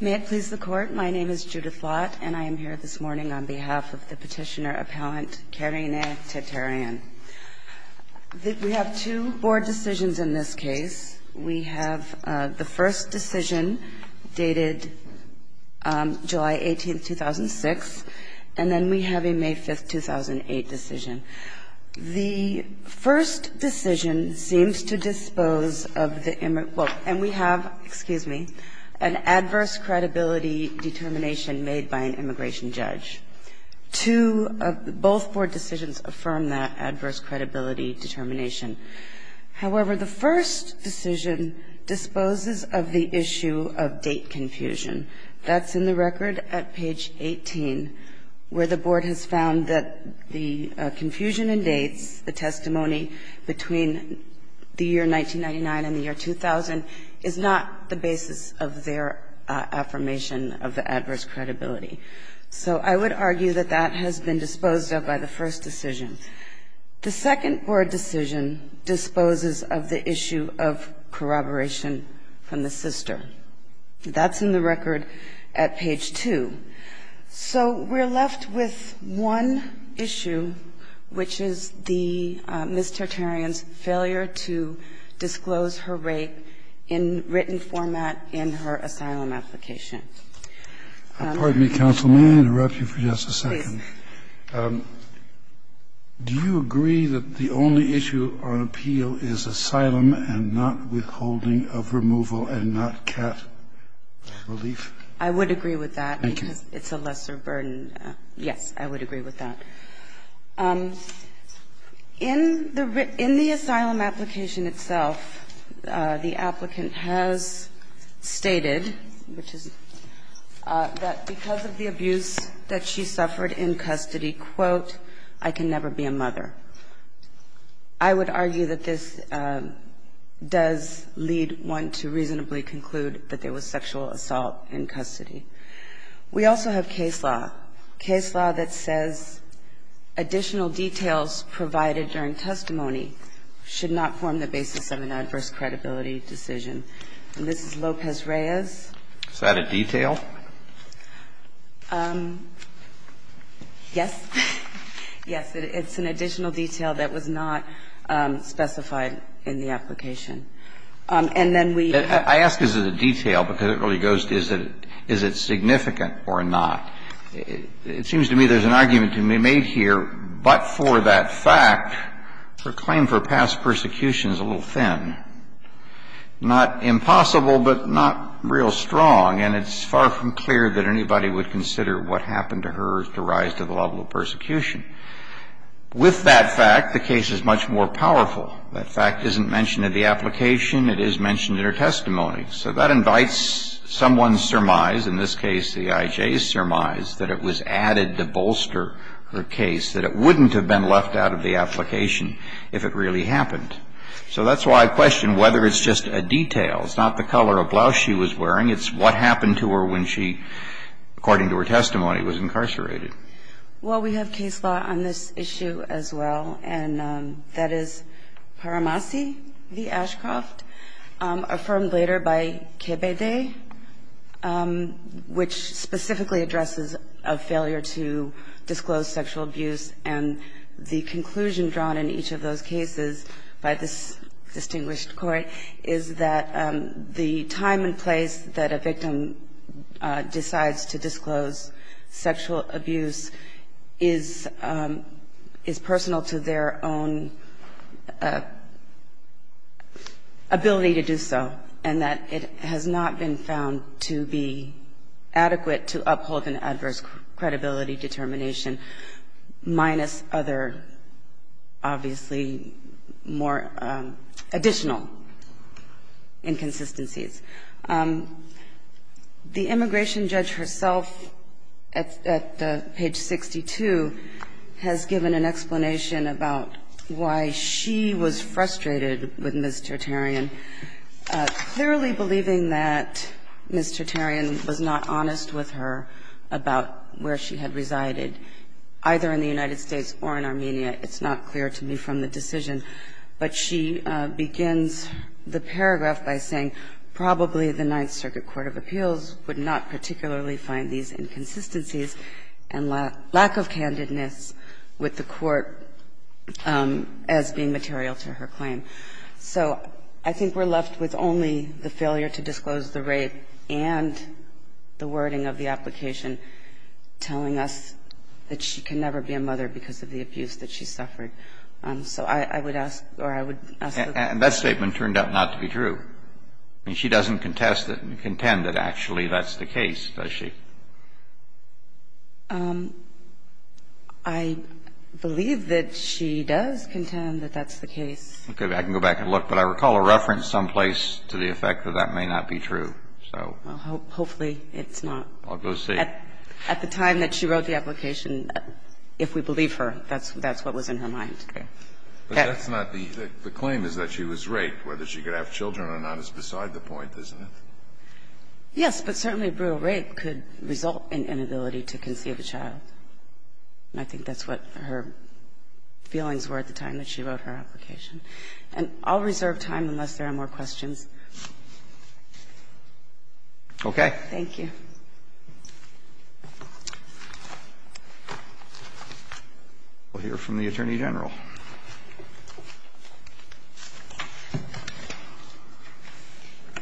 May it please the Court. My name is Judith Lott, and I am here this morning on behalf of the Petitioner Appellant Karine Terteryan. We have two board decisions in this case. We have the first decision dated July 18, 2006, and then we have a May 5, 2008 decision. The first decision seems to dispose of the emergency that we have, excuse me, an adverse credibility determination made by an immigration judge. Two of both board decisions affirm that adverse credibility determination. However, the first decision disposes of the issue of date confusion. That's in the record at page 18, where the board has found that the confusion in dates, the testimony between the year and date is not the basis of their affirmation of the adverse credibility. So I would argue that that has been disposed of by the first decision. The second board decision disposes of the issue of corroboration from the sister. That's in the record at page 2. So we're left with one issue, which is the Ms. Terteryan's failure to disclose her rape in written format in her asylum application. Kennedy, counsel, may I interrupt you for just a second? Do you agree that the only issue on appeal is asylum and not withholding of removal and not cat relief? I would agree with that, because it's a lesser burden. Yes, I would agree with that. In the asylum application itself, the applicant has stated, which is that because of the abuse that she suffered in custody, quote, I can never be a mother. I would argue that this does lead one to reasonably conclude that there was sexual assault in custody. We also have case law, case law that says additional details provided during testimony should not form the basis of an adverse credibility decision. And this is Lopez-Reyes. Is that a detail? Yes. Yes, it's an additional detail that was not specified in the application. And that's why I'm asking you to consider whether or not the claim for past persecution is significant or not. It seems to me there's an argument to be made here, but for that fact, her claim for past persecution is a little thin, not impossible, but not real strong. And it's far from clear that anybody would consider what happened to her as to rise to the level of persecution. With that fact, the case is much more powerful. That fact isn't mentioned in the application. It is mentioned in her testimony. So that invites someone's surmise, in this case the IJ's surmise, that it was added to bolster her case, that it wouldn't have been left out of the application if it really happened. So that's why I question whether it's just a detail. It's not the color of blouse she was wearing. It's what happened to her when she, according to her testimony, was incarcerated. Well, we have case law on this issue as well, and that is Paramasi v. Ashcroft, affirmed later by KBD, which specifically addresses a failure to disclose sexual abuse, and the conclusion drawn in each of those cases by this distinguished court is that the time and place that a victim decides to disclose sexual abuse is personal to their own ability to do so, and that it has not been found to be adequate to uphold an adverse credibility determination, minus other, obviously, more additional inconsistencies. The immigration judge herself, at page 62, has given an explanation about why she was frustrated with Ms. Tertarian, clearly believing that Ms. Tertarian was not honest with her about where she had resided, either in the United States or in Armenia. It's not clear to me from the decision, but she begins the paragraph by saying probably the Ninth Circuit Court of Appeals would not particularly find these inconsistencies and lack of candidness with the court as being material to her claim. So I think we're left with only the failure to disclose the rape and the wording of the application telling us that she can never be a mother because of the abuse that she suffered. So I would ask, or I would ask the Court to do that. And that statement turned out not to be true. I mean, she doesn't contest it, contend that actually that's the case, does she? I believe that she does contend that that's the case. Okay. I can go back and look, but I recall a reference someplace to the effect that that may not be true. So I'll go see. At the time that she wrote the application, if we believe her, that's what was in her mind. Okay. But that's not the claim, is that she was raped. Whether she could have children or not is beside the point, isn't it? Yes, but certainly brutal rape could result in inability to conceive a child. And I think that's what her feelings were at the time that she wrote her application. And I'll reserve time unless there are more questions. Okay. Thank you. We'll hear from the Attorney General.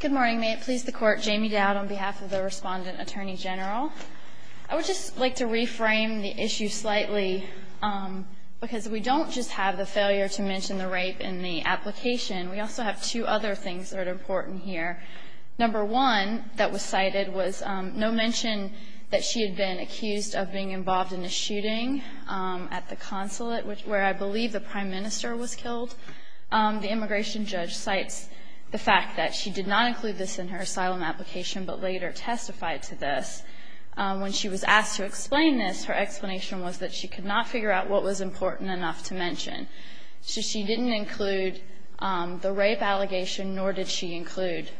Good morning. May it please the Court. Jamie Dowd on behalf of the Respondent Attorney General. I would just like to reframe the issue slightly, because we don't just have the failure to mention the rape in the application. We also have two other things that are important here. Number one that was cited was no mention that she had been accused of being involved in a shooting at the consulate, where I believe the Prime Minister was killed. The immigration judge cites the fact that she did not include this in her asylum application, but later testified to this. When she was asked to explain this, her explanation was that she could not figure out what was important enough to mention. So she didn't include the rape allegation, nor did she include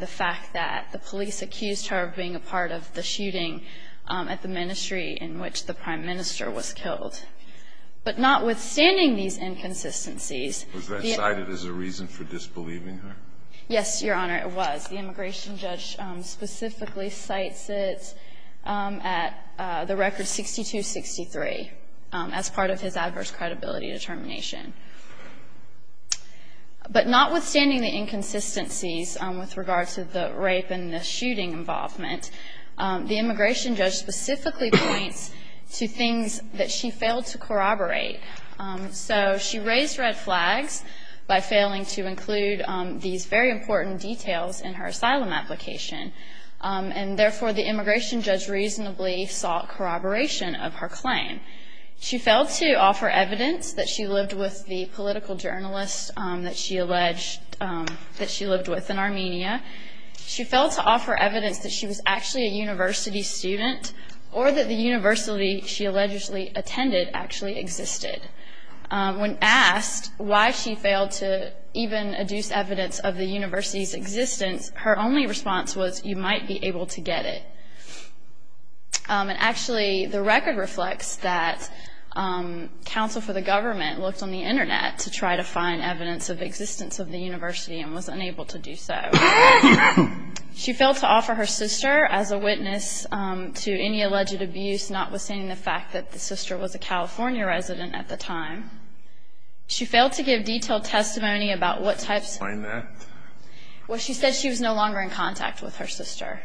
the fact that the police accused her of being a part of the shooting at the ministry in which the Prime Minister was killed. But notwithstanding these inconsistencies. Was that cited as a reason for disbelieving her? Yes, Your Honor, it was. The immigration judge specifically cites it at the record 6263 as part of his adverse credibility determination. But notwithstanding the inconsistencies with regard to the rape and the shooting involvement, the immigration judge specifically points to things that she failed to corroborate. So she raised red flags by failing to include these very important details in her asylum application. And therefore, the immigration judge reasonably sought corroboration of her claim. She failed to offer evidence that she lived with the political journalist that she alleged that she lived with in Armenia. She failed to offer evidence that she was actually a university student or that the university she allegedly attended actually existed. When asked why she failed to even adduce evidence of the university's existence, her only response was you might be able to get it. And actually, the record reflects that counsel for the government looked on the internet to try to find evidence of existence of the university and was unable to do so. She failed to offer her sister as a witness to any alleged abuse, notwithstanding the fact that the sister was a California resident at the time. She failed to give detailed testimony about what types of... Explain that. Well, she said she was no longer in contact with her sister.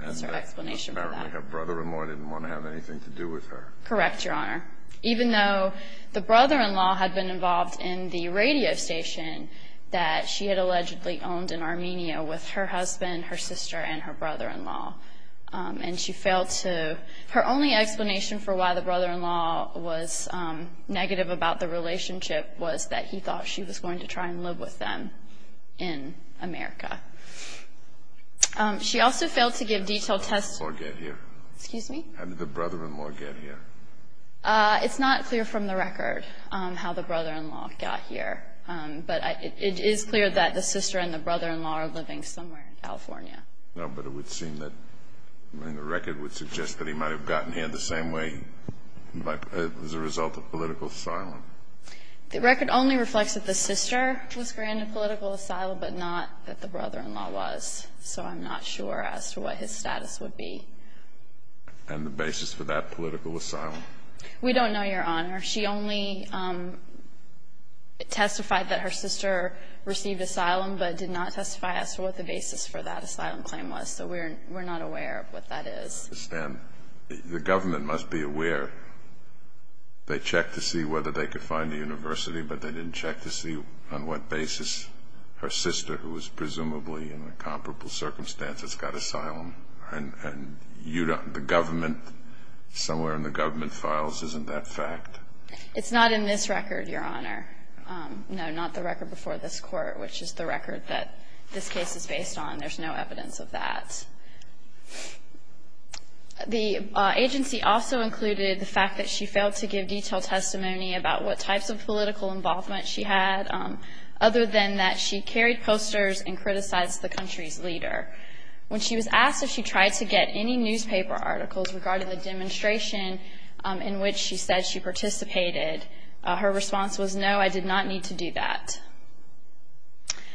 That's her explanation for that. And apparently her brother-in-law didn't want to have anything to do with her. Correct, Your Honor. Even though the brother-in-law had been involved in the radio station that she had allegedly owned in Armenia with her husband, her sister, and her brother-in-law. And she failed to... Her only explanation for why the brother-in-law was negative about the relationship was that he thought she was going to try and live with them in America. She also failed to give detailed testimony... How did the brother-in-law get here? Excuse me? How did the brother-in-law get here? It's not clear from the record how the brother-in-law got here. But it is clear that the sister and the brother-in-law are living somewhere in California. No, but it would seem that... I mean, the record would suggest that he might have gotten here the same way as a result of political asylum. The record only reflects that the sister was granted political asylum, but not that the brother-in-law was, so I'm not sure as to what his status would be. And the basis for that political asylum? We don't know, Your Honor. She only testified that her sister received asylum, but did not testify as to what the basis for that asylum claim was, so we're not aware of what that is. The government must be aware. They checked to see whether they could find a university, but they didn't check to see on what basis her sister, who was presumably in a comparable circumstance, has got asylum. And you don't... The government, somewhere in the government files, isn't that fact? It's not in this record, Your Honor. No, not the record before this Court, which is the record that this case is based on. There's no evidence of that. The agency also included the fact that she failed to give detailed testimony about what types of political involvement she had, other than that she carried posters and criticized the country's leader. When she was asked if she tried to get any newspaper articles regarding the demonstration in which she said she participated, her response was, no, I did not need to do that.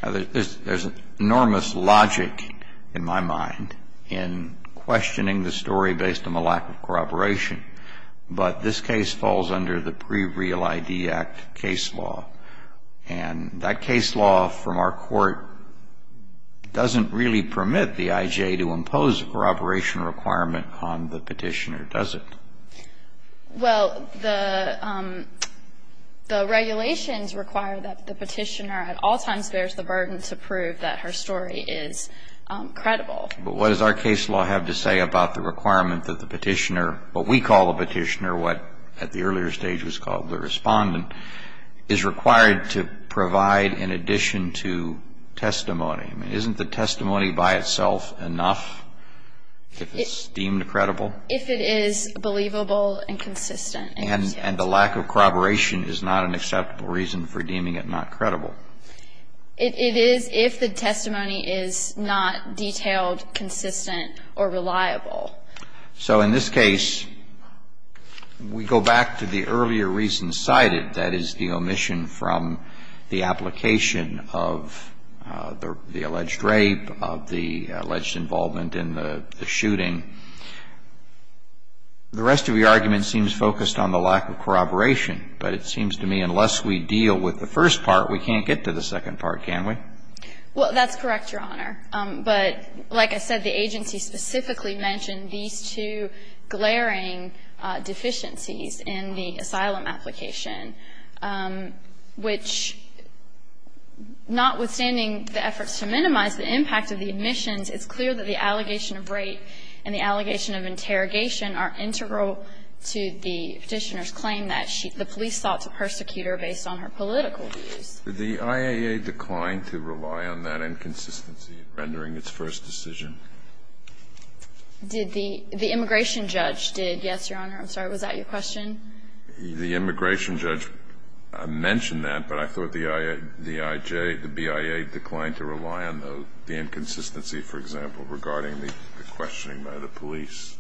There's enormous logic in my mind. In questioning the story based on the lack of corroboration. But this case falls under the Pre-Real ID Act case law. And that case law from our court doesn't really permit the IJ to impose a corroboration requirement on the petitioner, does it? Well, the regulations require that the petitioner at all times bears the burden to prove that her story is credible. But what does our case law have to say about the requirement that the petitioner, what we call a petitioner, what at the earlier stage was called the respondent, is required to provide in addition to testimony? I mean, isn't the testimony by itself enough if it's deemed credible? If it is believable and consistent. And the lack of corroboration is not an acceptable reason for deeming it not credible. It is if the testimony is not detailed, consistent, or reliable. So in this case, we go back to the earlier reason cited, that is, the omission from the application of the alleged rape, of the alleged involvement in the shooting. The rest of the argument seems focused on the lack of corroboration. But it seems to me unless we deal with the first part, we can't get to the second part, can we? Well, that's correct, Your Honor. But like I said, the agency specifically mentioned these two glaring deficiencies in the asylum application, which notwithstanding the efforts to minimize the impact of the omissions, it's clear that the allegation of rape and the allegation of interrogation are integral to the Petitioner's claim that she – the police sought to persecute her based on her political views. Did the IAA decline to rely on that inconsistency in rendering its first decision? Did the – the immigration judge did? Yes, Your Honor. I'm sorry. Was that your question? The immigration judge mentioned that, but I thought the IA – the IJ, the BIA declined to rely on the inconsistency, for example, regarding the questioning by the police.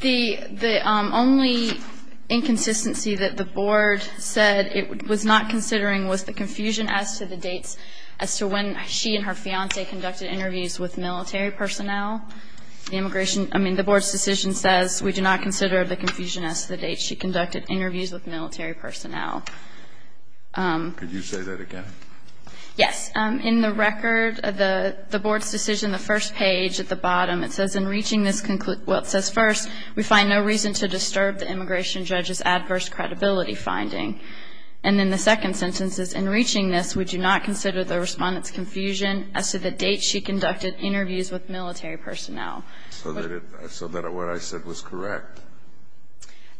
The – the only inconsistency that the Board said it was not considering was the confusion as to the dates as to when she and her fiancé conducted interviews with military personnel. The immigration – I mean, the Board's decision says we do not consider the confusion as to the dates she conducted interviews with military personnel. Could you say that again? Yes. In the record, the Board's decision, the first page at the bottom, it says, in reaching this – well, it says, first, we find no reason to disturb the immigration judge's adverse credibility finding. And in the second sentence, it says, in reaching this, we do not consider the respondent's confusion as to the dates she conducted interviews with military personnel. So that it – so that what I said was correct?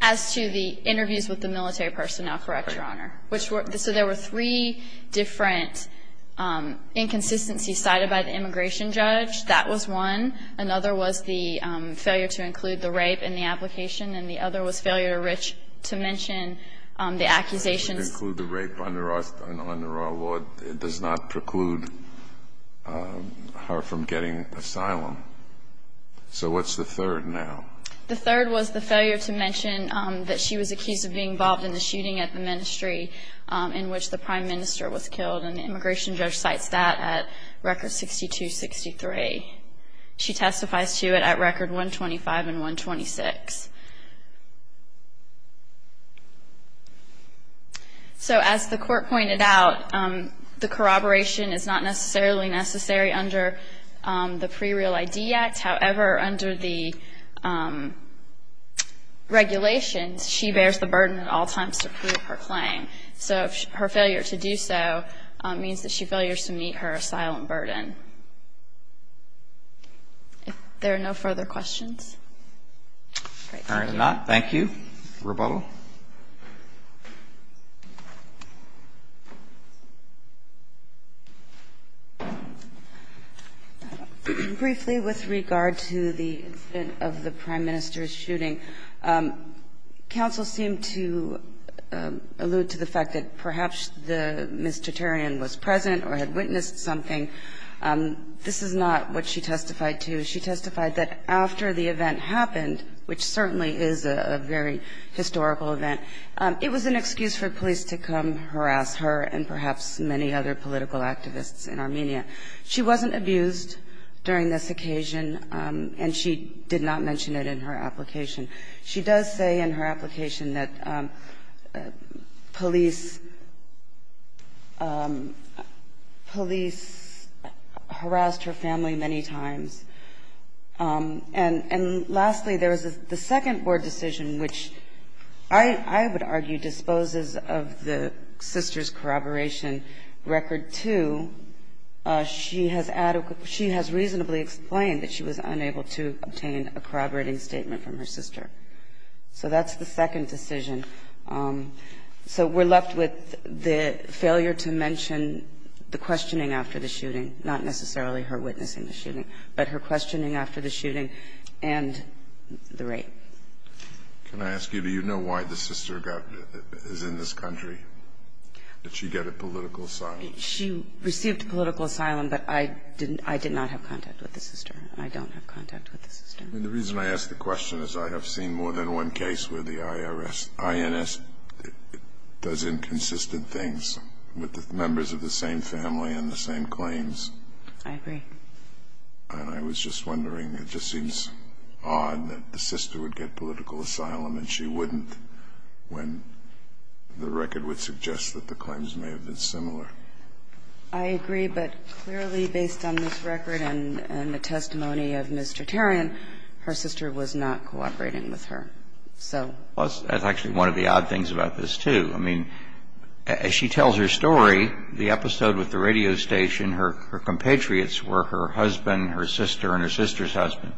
As to the interviews with the military personnel, correct, Your Honor. Which were – so there were three different inconsistencies cited by the immigration judge. That was one. Another was the failure to include the rape in the application. And the other was failure to mention the accusations. Include the rape under our law. It does not preclude her from getting asylum. So what's the third now? The third was the failure to mention that she was accused of being involved in the shooting at the ministry in which the Prime Minister was killed. And the immigration judge cites that at Record 6263. She testifies to it at Record 125 and 126. So as the court pointed out, the corroboration is not necessarily necessary under the Pre-Real ID Act. However, under the regulations, she bears the burden at all times to prove her claim. So her failure to do so means that she failures to meet her asylum burden. If there are no further questions. All right. Thank you. Thank you. Rebuttal. Briefly with regard to the incident of the Prime Minister's shooting, counsel seemed to allude to the fact that perhaps the minister was present or had witnessed something. This is not what she testified to. She testified that after the event happened, which certainly is a very historical event, it was an excuse for police to come harass her and perhaps many other political activists in Armenia. She wasn't abused during this occasion and she did not mention it in her application. She does say in her application that police harassed her family many times. And lastly, there was the second board decision, which I would argue disposes of the sister's corroboration record, too. She has reasonably explained that she was unable to obtain a corroborating statement from her sister. So that's the second decision. So we're left with the failure to mention the questioning after the shooting, not necessarily her witnessing the shooting, but her questioning after the shooting and the rape. Can I ask you, do you know why the sister is in this country? Did she get a political asylum? She received political asylum, but I did not have contact with the sister. I don't have contact with the sister. The reason I ask the question is I have seen more than one case where the IRS, INS does inconsistent things with the members of the same family and the same claims. I agree. And I was just wondering, it just seems odd that the sister would get political asylum and she wouldn't when the record would suggest that the claims may have been similar. I agree, but clearly based on this record and the testimony of Mr. Tarian, her sister was not cooperating with her. So. Well, that's actually one of the odd things about this, too. I mean, as she tells her story, the episode with the radio station, her compatriots were her husband, her sister, and her sister's husband.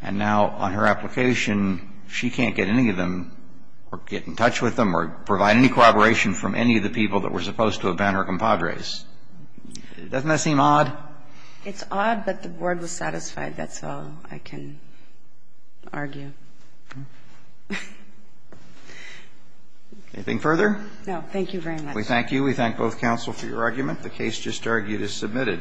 And now on her application, she can't get any of them or get in touch with them or provide any cooperation from any of the people that were supposed to have been her compadres. Doesn't that seem odd? It's odd, but the board was satisfied. That's all I can argue. Anything further? No. Thank you very much. We thank you. We thank both counsel for your argument. The case just argued is submitted.